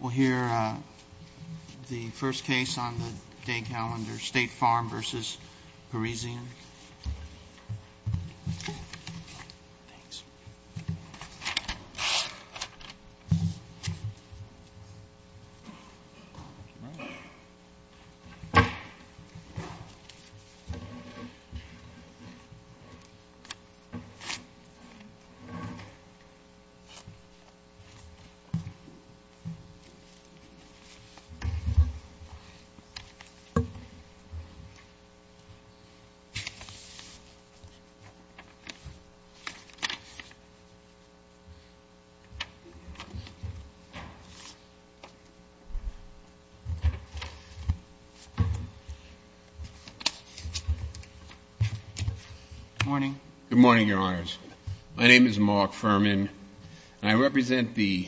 We'll hear the first case on the day calendar, State Farm v. Parisian. Good morning, Your Honors. My name is Mark Furman, and I represent the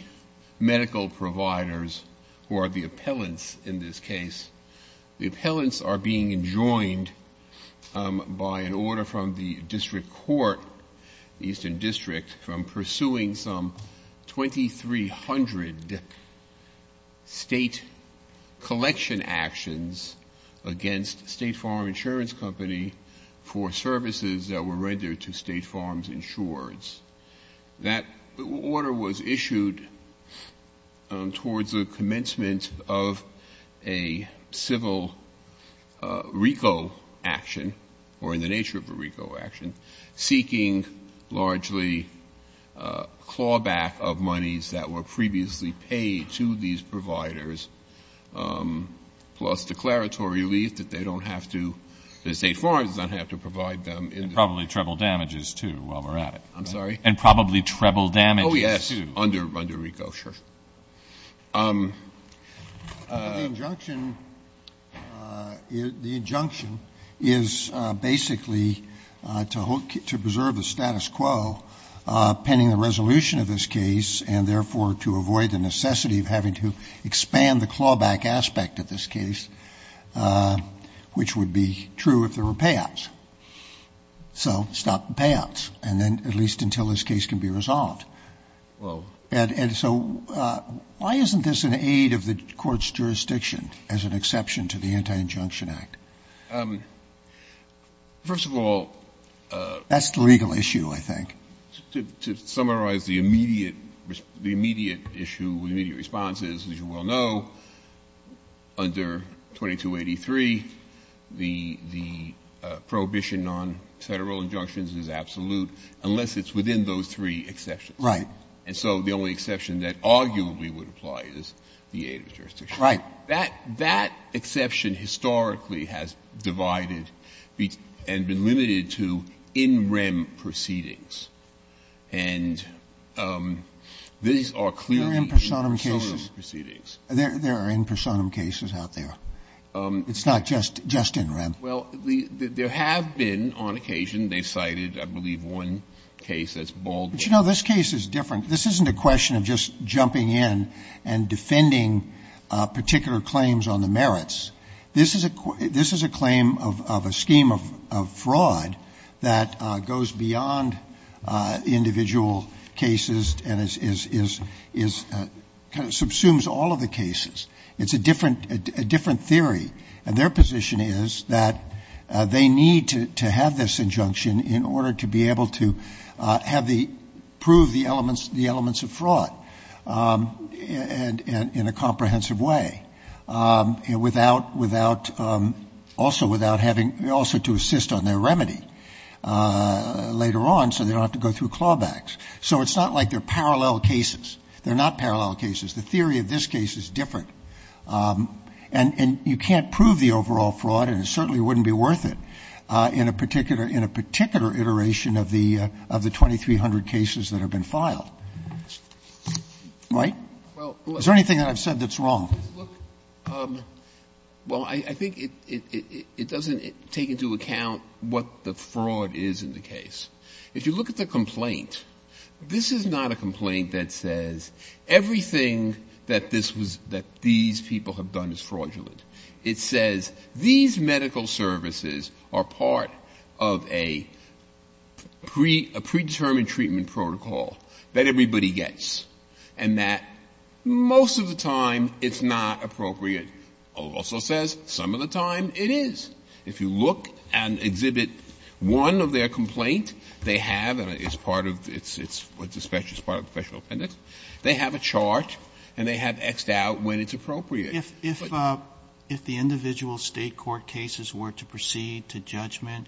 medical providers who are the appellants in this case. The appellants are being enjoined by an order from the district court, the Eastern District, from pursuing some 2,300 state collection actions against State Farm Insurance Company for services that were rendered to State Farm Insurance. That order was issued towards the commencement of a civil RICO action, or in the nature of a RICO action, seeking largely clawback of monies that were previously paid to these providers, plus declaratory relief that they don't have to, that State Farm does not have to provide them. And probably treble damages, too, while we're at it. I'm sorry? And probably treble damages, too. Oh, yes, under RICO, sure. The injunction is basically to preserve the status quo pending the resolution of this case and, therefore, to avoid the necessity of having to expand the clawback aspect of this case, which would be true if there were payouts. So stop the payouts, and then at least until this case can be resolved. And so why isn't this an aid of the court's jurisdiction as an exception to the Anti-Injunction Act? First of all, that's the legal issue, I think. To summarize the immediate issue, the immediate response is, as you well know, under 2283, the prohibition on Federal injunctions is absolute unless it's within those three exceptions. Right. And so the only exception that arguably would apply is the aid of the jurisdiction. Right. Now, that exception historically has divided and been limited to in rem proceedings. And these are clearly in rem proceedings. There are in personam cases out there. It's not just in rem. Well, there have been on occasion. They cited, I believe, one case that's Baldwin. But, you know, this case is different. This isn't a question of just jumping in and defending particular claims on the merits. This is a claim of a scheme of fraud that goes beyond individual cases and subsumes all of the cases. It's a different theory. And their position is that they need to have this injunction in order to be able to have the prove the elements of fraud in a comprehensive way, without, also without having, also to assist on their remedy later on so they don't have to go through clawbacks. So it's not like they're parallel cases. They're not parallel cases. The theory of this case is different. And you can't prove the overall fraud, and it certainly wouldn't be worth it in a particular iteration of the 2,300 cases that have been filed. Right? Is there anything that I've said that's wrong? Well, I think it doesn't take into account what the fraud is in the case. If you look at the complaint, this is not a complaint that says everything that this was, that these people have done is fraudulent. It says these medical services are part of a predetermined treatment protocol that everybody gets, and that most of the time it's not appropriate. It also says some of the time it is. If you look and exhibit one of their complaint, they have, and it's part of the special appendix, they have a chart and they have X'd out when it's appropriate. If the individual State court cases were to proceed to judgment,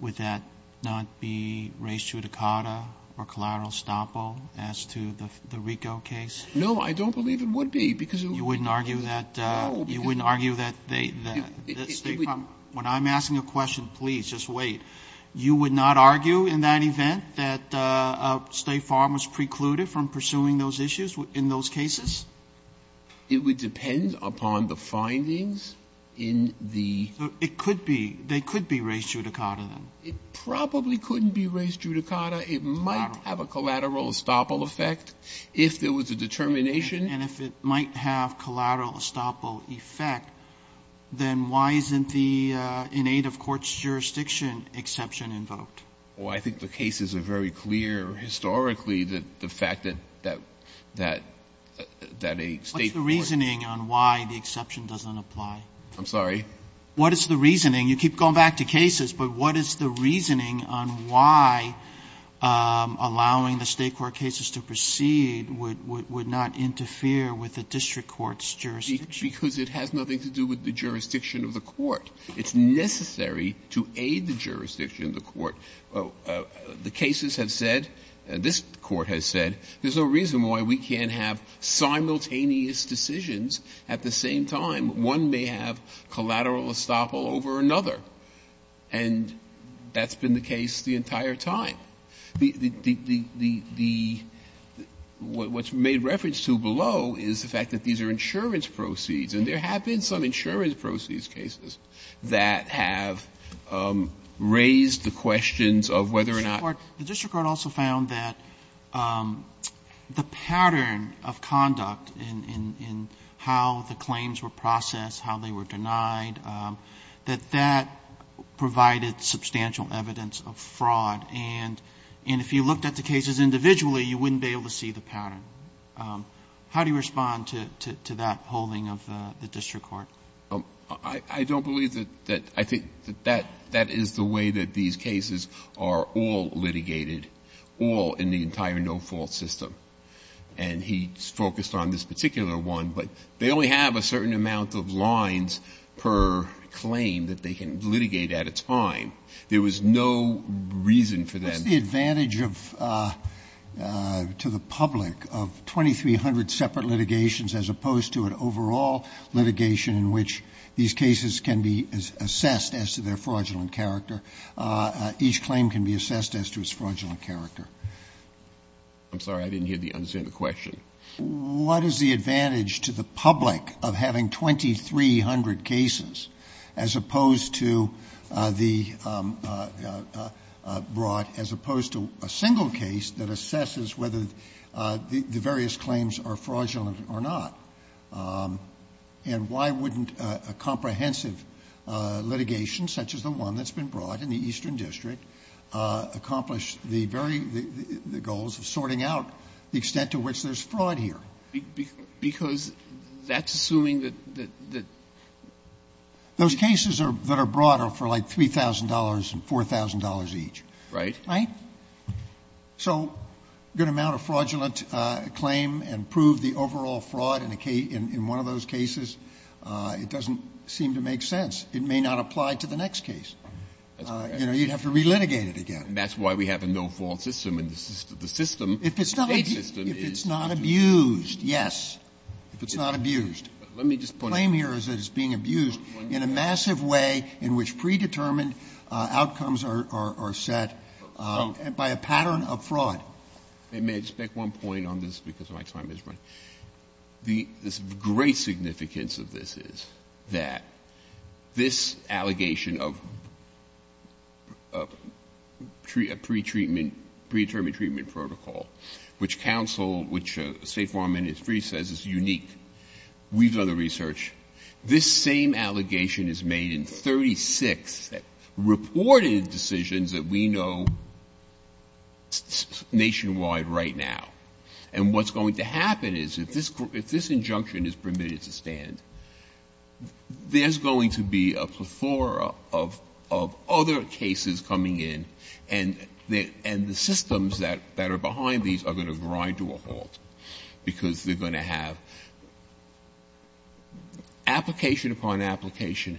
would that not be res judicata or collateral estoppel as to the Ricoh case? No, I don't believe it would be, because it would be. You wouldn't argue that State Farm, when I'm asking a question, please, just wait. You would not argue in that event that State Farm was precluded from pursuing those issues in those cases? It would depend upon the findings in the. It could be. They could be res judicata, then. It probably couldn't be res judicata. It might have a collateral estoppel effect if there was a determination. And if it might have collateral estoppel effect, then why isn't the in aid of courts jurisdiction exception invoked? Well, I think the cases are very clear historically that the fact that a State court. What's the reasoning on why the exception doesn't apply? I'm sorry? What is the reasoning? You keep going back to cases, but what is the reasoning on why allowing the State court cases to proceed would not interfere with the district court's jurisdiction? Because it has nothing to do with the jurisdiction of the court. It's necessary to aid the jurisdiction of the court. The cases have said, this Court has said, there's no reason why we can't have simultaneous decisions at the same time. One may have collateral estoppel over another. And that's been the case the entire time. The what's made reference to below is the fact that these are insurance proceeds. And there have been some insurance proceeds cases that have raised the questions of whether or not. The district court also found that the pattern of conduct in how the claims were processed, how they were denied, that that provided substantial evidence of fraud and if you looked at the cases individually, you wouldn't be able to see the pattern. How do you respond to that polling of the district court? I don't believe that. I think that that is the way that these cases are all litigated, all in the entire no-fault system. And he focused on this particular one. But they only have a certain amount of lines per claim that they can litigate at a time. There was no reason for them. What's the advantage to the public of 2300 separate litigations as opposed to an overall litigation in which these cases can be assessed as to their fraudulent character? Each claim can be assessed as to its fraudulent character. I'm sorry. I didn't hear the answer to the question. What is the advantage to the public of having 2300 cases as opposed to the one that's been brought as opposed to a single case that assesses whether the various claims are fraudulent or not? And why wouldn't a comprehensive litigation such as the one that's been brought in the Eastern District accomplish the very goals of sorting out the extent to which there's fraud here? Because that's assuming that the ---- Those cases that are brought are for like $3,000 and $4,000 each. Right? Right? So a good amount of fraudulent claim and prove the overall fraud in one of those cases, it doesn't seem to make sense. It may not apply to the next case. That's correct. You'd have to relitigate it again. That's why we have a no-fault system. And the system ---- If it's not abused, yes. If it's not abused. Let me just put ---- The claim here is that it's being abused in a massive way in which predetermined outcomes are set by a pattern of fraud. May I just make one point on this, because my time is running? The great significance of this is that this allegation of a pretreatment, predetermined treatment protocol, which counsel, which State Farm Ministry says is unique, we've done the research, this same allegation is made in 36 reported decisions that we know nationwide right now. And what's going to happen is if this injunction is permitted to stand, there's going to be a plethora of other cases coming in, and the systems that are behind these are going to grind to a halt because they're going to have application upon application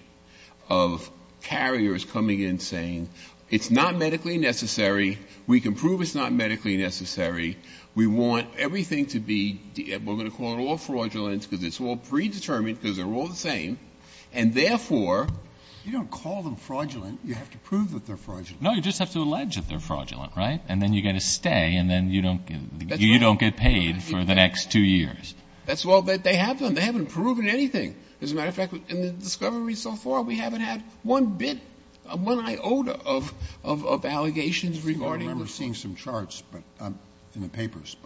of carriers coming in saying it's not medically necessary, we can prove it's not medically necessary, we want everything to be, we're going to call it all fraudulent because it's all predetermined because they're all the same, and therefore ---- You don't call them fraudulent. You have to prove that they're fraudulent. No, you just have to allege that they're fraudulent, right? And then you've got to stay, and then you don't get paid for the next two years. That's right. They haven't proven anything. As a matter of fact, in the discovery so far, we haven't had one bit, one iota of allegations regarding this. I remember seeing some charts in the papers.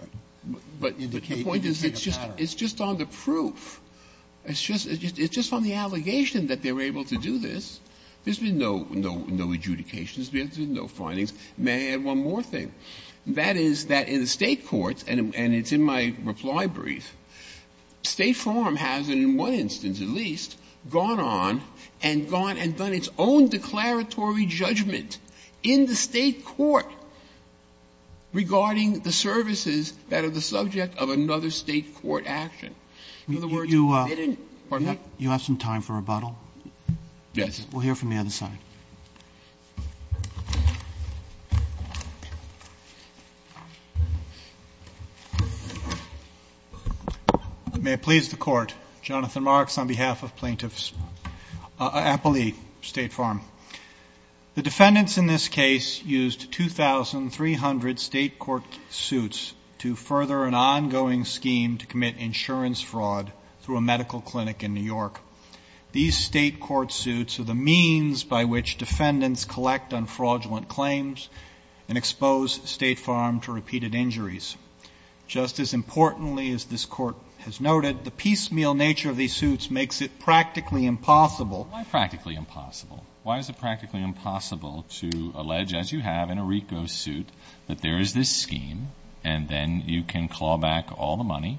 But the point is it's just on the proof. It's just on the allegation that they were able to do this. There's been no adjudications. There's been no findings. May I add one more thing? That is that in the State courts, and it's in my reply brief, State Farm has, in one instance at least, gone on and gone and done its own declaratory judgment in the State court regarding the services that are the subject of another State court action. In other words, they didn't ---- You have some time for rebuttal? Yes. We'll hear from the other side. Thank you. May it please the Court. Jonathan Marks on behalf of plaintiffs. Applee, State Farm. The defendants in this case used 2,300 State court suits to further an ongoing scheme to commit insurance fraud through a medical clinic in New York. These State court suits are the means by which defendants collect on fraudulent claims and expose State Farm to repeated injuries. Just as importantly as this Court has noted, the piecemeal nature of these suits makes it practically impossible ---- Why practically impossible? Why is it practically impossible to allege, as you have in Erico's suit, that there is this scheme and then you can claw back all the money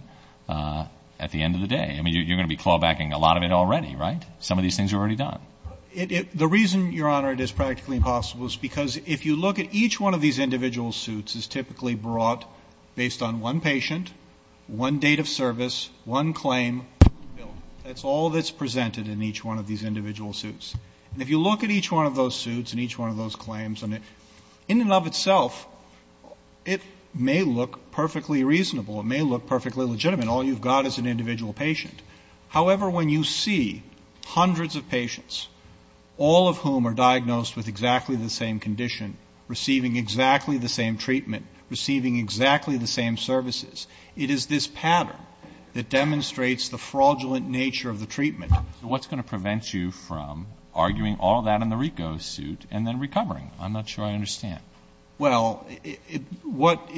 at the end of the day? I mean, you're going to be claw backing a lot of it already, right? Some of these things are already done. The reason, Your Honor, it is practically impossible is because if you look at each one of these individual suits as typically brought based on one patient, one date of service, one claim, that's all that's presented in each one of these individual suits. And if you look at each one of those suits and each one of those claims, in and of itself, it may look perfectly reasonable. It may look perfectly legitimate. All you've got is an individual patient. However, when you see hundreds of patients, all of whom are diagnosed with exactly the same condition, receiving exactly the same treatment, receiving exactly the same services, it is this pattern that demonstrates the fraudulent nature of the treatment. So what's going to prevent you from arguing all that in the Rico suit and then recovering? I'm not sure I understand. Well, what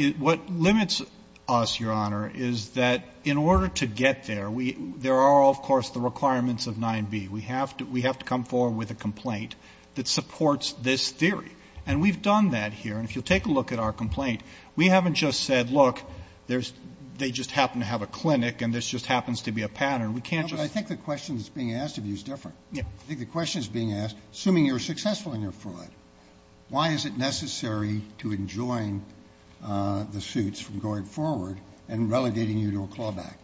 limits us, Your Honor, is that in order to get there, there are, of course, the requirements of 9b. We have to come forward with a complaint that supports this theory. And we've done that here. And if you'll take a look at our complaint, we haven't just said, look, they just happen to have a clinic and this just happens to be a pattern. We can't just say. But I think the question that's being asked of you is different. I think the question that's being asked, assuming you're successful in your fraud, why is it necessary to enjoin the suits from going forward and relegating you to a clawback?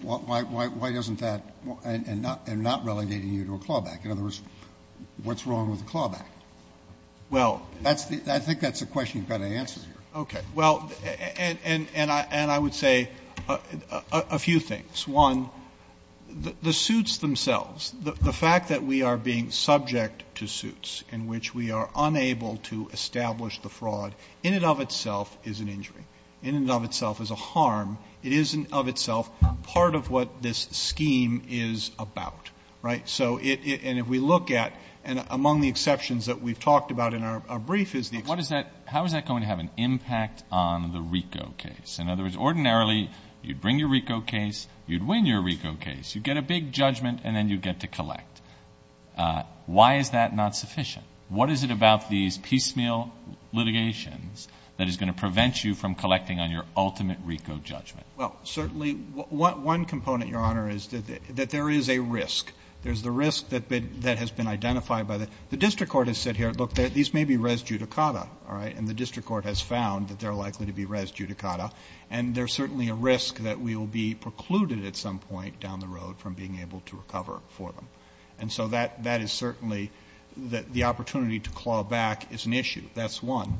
Why doesn't that and not relegating you to a clawback? In other words, what's wrong with the clawback? I think that's a question you've got to answer here. Okay. Well, and I would say a few things. One, the suits themselves, the fact that we are being subject to suits in which we are unable to establish the fraud, in and of itself is an injury. In and of itself is a harm. It is in and of itself part of what this scheme is about. Right? And if we look at, and among the exceptions that we've talked about in our brief is the exception. How is that going to have an impact on the RICO case? In other words, ordinarily you'd bring your RICO case, you'd win your RICO case, you'd get a big judgment, and then you'd get to collect. Why is that not sufficient? What is it about these piecemeal litigations that is going to prevent you from collecting on your ultimate RICO judgment? Well, certainly one component, Your Honor, is that there is a risk. There's the risk that has been identified by the district court has said here, look, these may be res judicata, all right, and the district court has found that they're likely to be res judicata, and there's certainly a risk that we will be precluded at some point down the road from being able to recover for them. And so that is certainly the opportunity to claw back is an issue. That's one.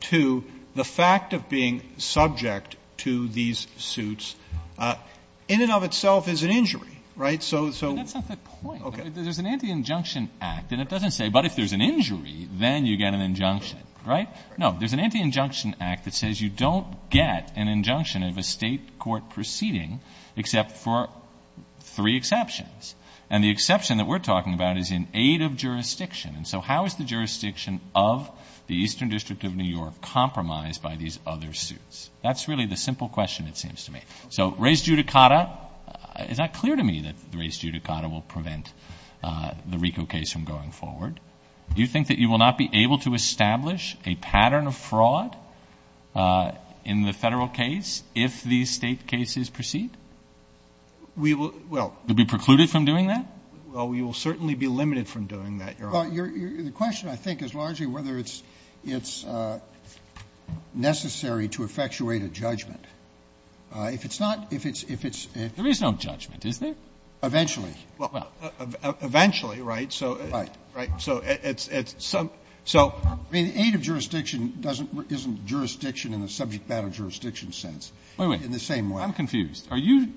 Two, the fact of being subject to these suits in and of itself is an injury. Right? But that's not the point. There's an Anti-Injunction Act, and it doesn't say, but if there's an injury, then you get an injunction. Right? No. There's an Anti-Injunction Act that says you don't get an injunction of a State court proceeding except for three exceptions. And the exception that we're talking about is in aid of jurisdiction. And so how is the jurisdiction of the Eastern District of New York compromised by these other suits? That's really the simple question it seems to me. So res judicata, is that clear to me that res judicata will prevent the RICO case from going forward? Do you think that you will not be able to establish a pattern of fraud in the Federal case if these State cases proceed? We will. You'll be precluded from doing that? Well, we will certainly be limited from doing that, Your Honor. Well, the question I think is largely whether it's necessary to effectuate a judgment. If it's not, if it's, if it's, if it's. There is no judgment, is there? Eventually. Well, eventually, right? Right. So it's, it's, so. I mean, aid of jurisdiction doesn't, isn't jurisdiction in the subject matter jurisdiction sense. In the same way. I'm confused. Are you,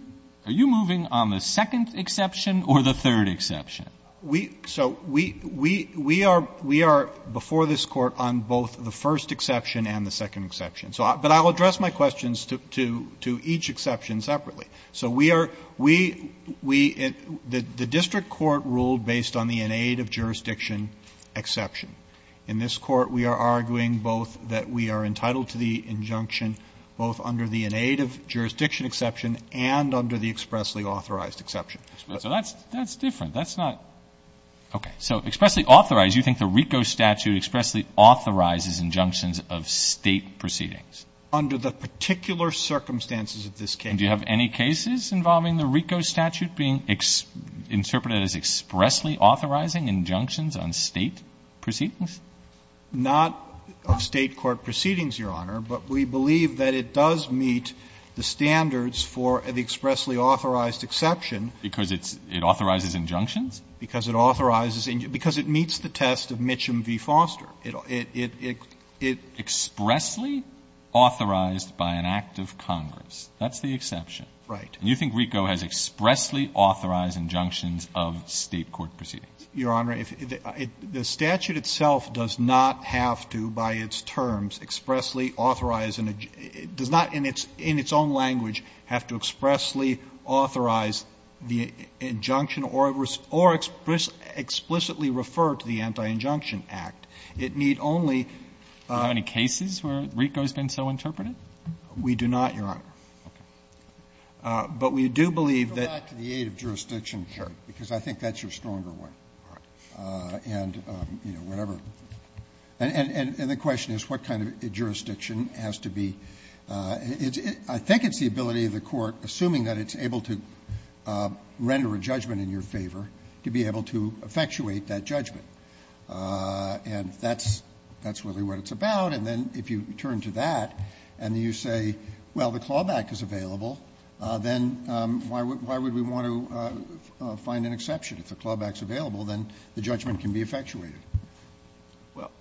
are you moving on the second exception or the third exception? We, so we, we, we are, we are before this Court on both the first exception and the second exception. So, but I'll address my questions to, to, to each exception separately. So we are, we, we, the, the district court ruled based on the in aid of jurisdiction exception. In this Court, we are arguing both that we are entitled to the injunction both under the in aid of jurisdiction exception and under the expressly authorized exception. So that's, that's different. That's not. Okay. So expressly authorized, you think the RICO statute expressly authorizes injunctions of State proceedings? Under the particular circumstances of this case. And do you have any cases involving the RICO statute being interpreted as expressly authorizing injunctions on State proceedings? Not of State court proceedings, Your Honor. But we believe that it does meet the standards for the expressly authorized Because it's, it authorizes injunctions? Because it authorizes, because it meets the test of Mitcham v. Foster. It, it, it, it. Expressly authorized by an act of Congress. That's the exception. Right. And you think RICO has expressly authorized injunctions of State court proceedings? Your Honor, if it, the statute itself does not have to, by its terms, expressly authorize an, it does not in its, in its own language have to expressly authorize the injunction or, or explicitly refer to the Anti-Injunction Act. It need only. Do you have any cases where RICO has been so interpreted? We do not, Your Honor. Okay. But we do believe that. Back to the aid of jurisdiction. Sure. Because I think that's your stronger one. All right. And, you know, whatever. And, and, and the question is what kind of jurisdiction has to be, it's, I think it's the ability of the court, assuming that it's able to render a judgment in your favor, to be able to effectuate that judgment. And that's, that's really what it's about. And then if you turn to that and you say, well, the clawback is available, then why would, why would we want to find an exception? If the clawback's available, then the judgment can be effectuated. Well,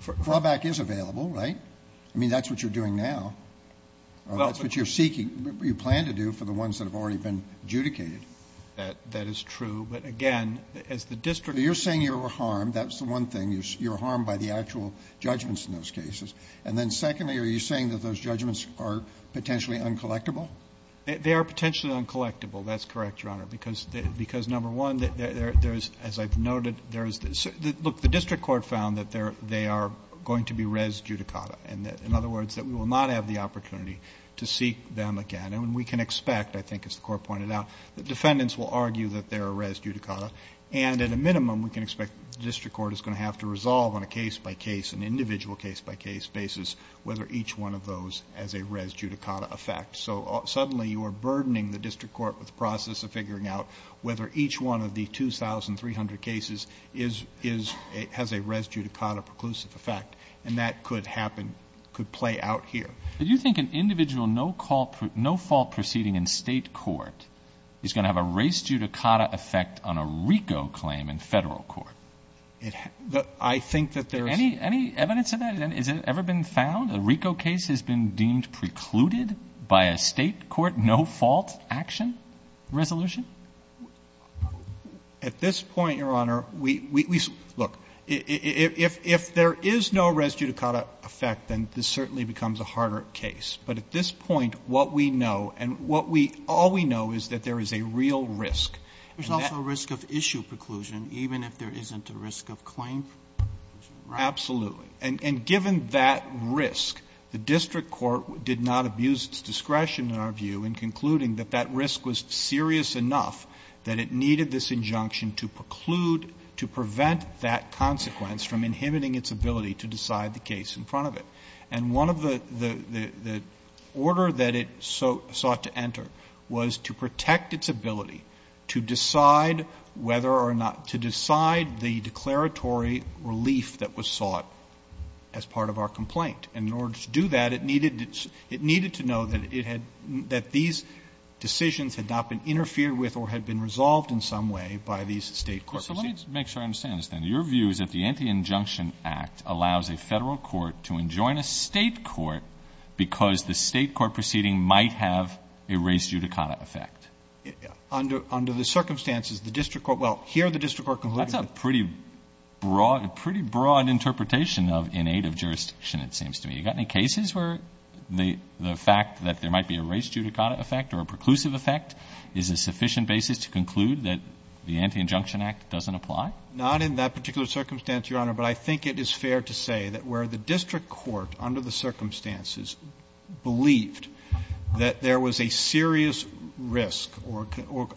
for. Clawback is available, right? I mean, that's what you're doing now. Well. That's what you're seeking, what you plan to do for the ones that have already been adjudicated. That, that is true. But again, as the district. You're saying you're harmed. That's the one thing. You're harmed by the actual judgments in those cases. And then secondly, are you saying that those judgments are potentially uncollectible? They are potentially uncollectible. That's correct, Your Honor. Because, because number one, there's, as I've noted, there's, look, the district court found that they are going to be res judicata. And in other words, that we will not have the opportunity to seek them again. And we can expect, I think as the Court pointed out, that defendants will argue that they're a res judicata. And at a minimum, we can expect the district court is going to have to resolve on a case-by-case, an individual case-by-case basis whether each one of those has a res judicata effect. So suddenly you are burdening the district court with the process of figuring out whether each one of the 2,300 cases is, has a res judicata preclusive effect. And that could happen, could play out here. Do you think an individual no-fault proceeding in state court is going to have a res judicata effect on a RICO claim in federal court? I think that there is. Any evidence of that? Has it ever been found? A RICO case has been deemed precluded by a state court no-fault action resolution? At this point, Your Honor, we, we, we, look, if, if, if there is no res judicata effect, then this certainly becomes a harder case. But at this point, what we know, and what we, all we know is that there is a real risk. There's also a risk of issue preclusion, even if there isn't a risk of claim preclusion, right? Absolutely. And, and given that risk, the district court did not abuse its discretion, in our view, in concluding that that risk was serious enough that it needed this injunction to preclude, to prevent that consequence from inhibiting its ability to decide the case in front of it. And one of the, the, the, the order that it so, sought to enter was to protect its ability to decide whether or not, to decide the declaratory relief that was sought as part of our complaint. And in order to do that, it needed, it needed to know that it had, that these decisions had not been interfered with or had been resolved in some way by these state courts. So let me make sure I understand this, then. Your view is that the Anti-Injunction Act allows a Federal court to enjoin a state court because the state court proceeding might have a res judicata effect? Under, under the circumstances, the district court, well, here the district court concluded that. That's a pretty broad, pretty broad interpretation of innate of jurisdiction, it seems to me. You got any cases where the, the fact that there might be a res judicata effect or a preclusive effect is a sufficient basis to conclude that the Anti-Injunction Act doesn't apply? Not in that particular circumstance, Your Honor, but I think it is fair to say that where the district court, under the circumstances, believed that there was a serious risk or, or,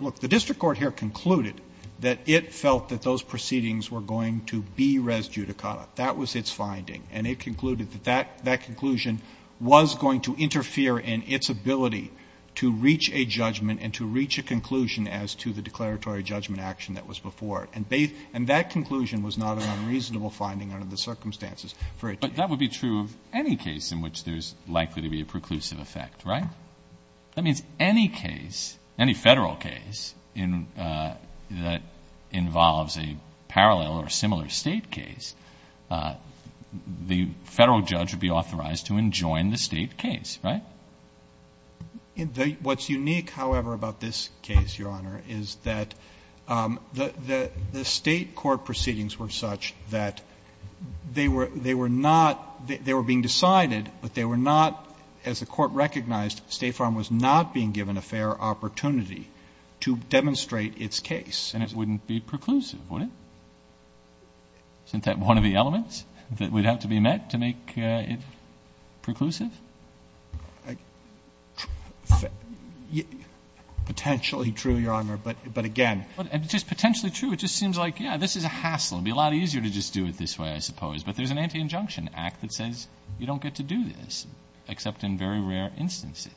look, the district court here concluded that it felt that those proceedings were going to be res judicata. That was its finding. And it concluded that that, that conclusion was going to interfere in its ability to reach a judgment and to reach a conclusion as to the declaratory judgment action that was before it. And they, and that conclusion was not an unreasonable finding under the circumstances for it to be. But that would be true of any case in which there's likely to be a preclusive effect, right? That means any case, any Federal case in, that involves a parallel or similar State case, the Federal judge would be authorized to enjoin the State case, right? What's unique, however, about this case, Your Honor, is that the, the State court proceedings were such that they were, they were not, they were being decided, but they were not, as the Court recognized, State Farm was not being given a fair opportunity to demonstrate its case. And it wouldn't be preclusive, would it? Isn't that one of the elements that would have to be met to make it preclusive? Potentially true, Your Honor, but, but again. It's just potentially true. It just seems like, yeah, this is a hassle. But there's an anti-injunction act that says you don't get to do this, except in very rare instances.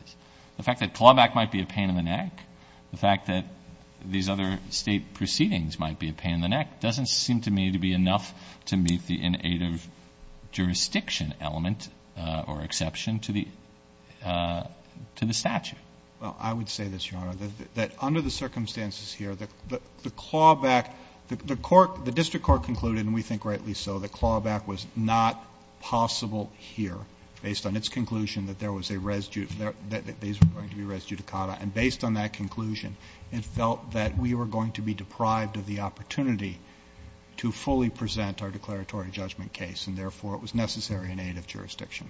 The fact that clawback might be a pain in the neck, the fact that these other State proceedings might be a pain in the neck, doesn't seem to me to be enough to meet the inactive jurisdiction element or exception to the, to the statute. Well, I would say this, Your Honor, that under the circumstances here, the clawback the court, the district court concluded, and we think rightly so, that clawback was not possible here, based on its conclusion that there was a residue, that these were going to be res judicata. And based on that conclusion, it felt that we were going to be deprived of the opportunity to fully present our declaratory judgment case. And therefore, it was necessary in aid of jurisdiction.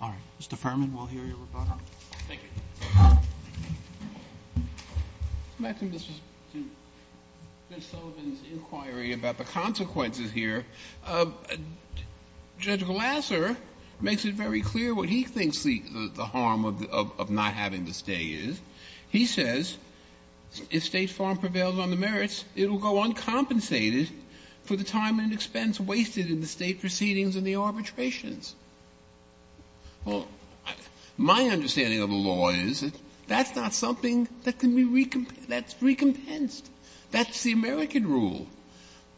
All right. Mr. Furman, we'll hear your rebuttal. Thank you. Mr. Sullivan's inquiry about the consequences here, Judge Glasser makes it very clear what he thinks the harm of not having the stay is. He says, if State farm prevails on the merits, it will go uncompensated for the time and expense wasted in the State proceedings and the arbitrations. Well, my understanding of the law is that that's not something that can be recompensed. That's recompensed. That's the American rule.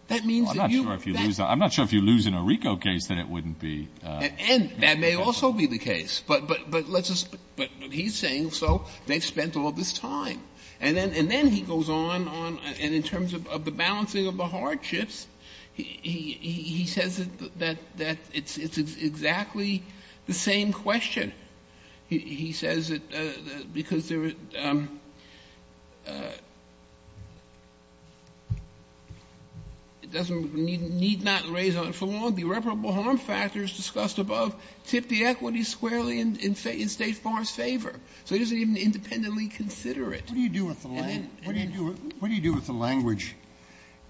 That means that you've got to do that. I'm not sure if you lose in a RICO case, then it wouldn't be. And that may also be the case. But let's just, but he's saying so. They've spent all this time. And then he goes on, and in terms of the balancing of the hardships, he says that it's exactly the same question. He says that because there is, it doesn't need not raise for long the irreparable harm factors discussed above, tip the equity squarely in State farms' favor. So he doesn't even independently consider it. What do you do with the language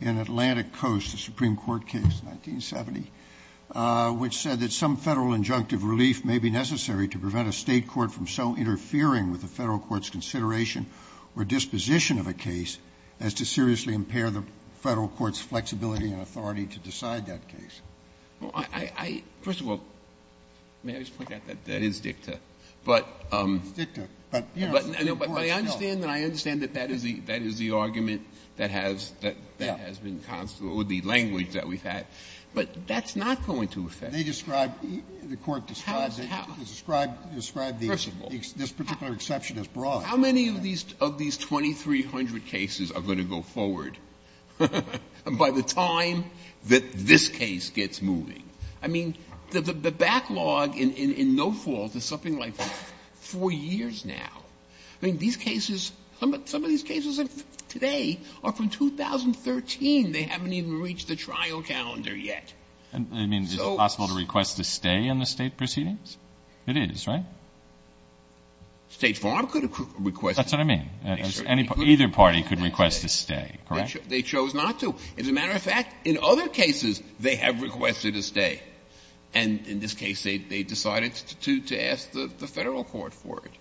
in Atlantic Coast, the Supreme Court case, 1970? Which said that some Federal injunctive relief may be necessary to prevent a State court from so interfering with the Federal court's consideration or disposition of a case as to seriously impair the Federal court's flexibility and authority to decide that case. Well, I, first of all, may I just point out that that is dicta. It's dicta. But I understand that that is the argument that has been, or the language that we've had. But that's not going to affect it. Scalia. They describe, the Court describes it, described this particular exception as broad. How many of these 2,300 cases are going to go forward by the time that this case gets moving? I mean, the backlog in no fault is something like 4 years now. I mean, these cases, some of these cases today are from 2013. They haven't even reached the trial calendar yet. So. Breyer. I mean, is it possible to request a stay in the State proceedings? It is, right? Scalia. State Farm could request a stay. Breyer. That's what I mean. Either party could request a stay, correct? Scalia. They chose not to. As a matter of fact, in other cases, they have requested a stay. And in this case, they decided to ask the Federal court for it.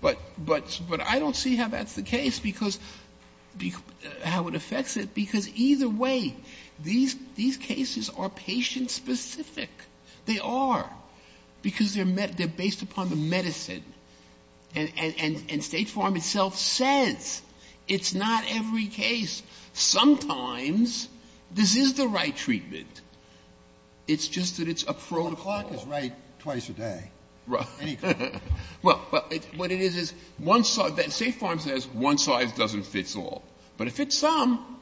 But I don't see how that's the case, because, how it affects it. Because either way, these cases are patient-specific. They are. Because they're based upon the medicine. And State Farm itself says it's not every case. Sometimes this is the right treatment. It's just that it's a protocol. Kennedy. A clerk is right twice a day. Any clerk. Well, what it is, State Farm says one size doesn't fit all. But it fits some.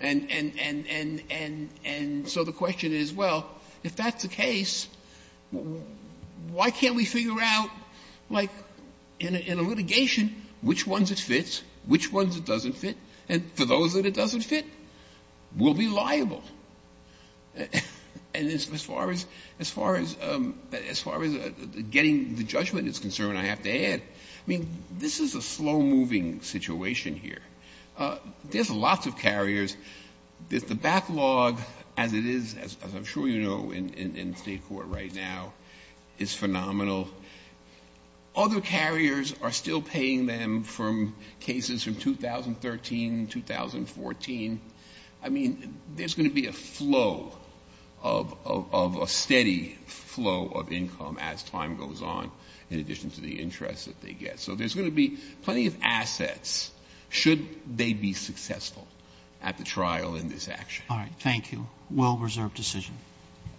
And so the question is, well, if that's the case, why can't we figure out, like, in a litigation, which ones it fits, which ones it doesn't fit. And for those that it doesn't fit, we'll be liable. And as far as getting the judgment is concerned, I have to add, I mean, this is a slow-moving situation here. There's lots of carriers. The backlog, as it is, as I'm sure you know in State court right now, is phenomenal. Other carriers are still paying them from cases from 2013, 2014. I mean, there's going to be a flow of a steady flow of income as time goes on, in addition to the interest that they get. So there's going to be plenty of assets should they be successful at the trial in this action. All right. Well-reserved decision.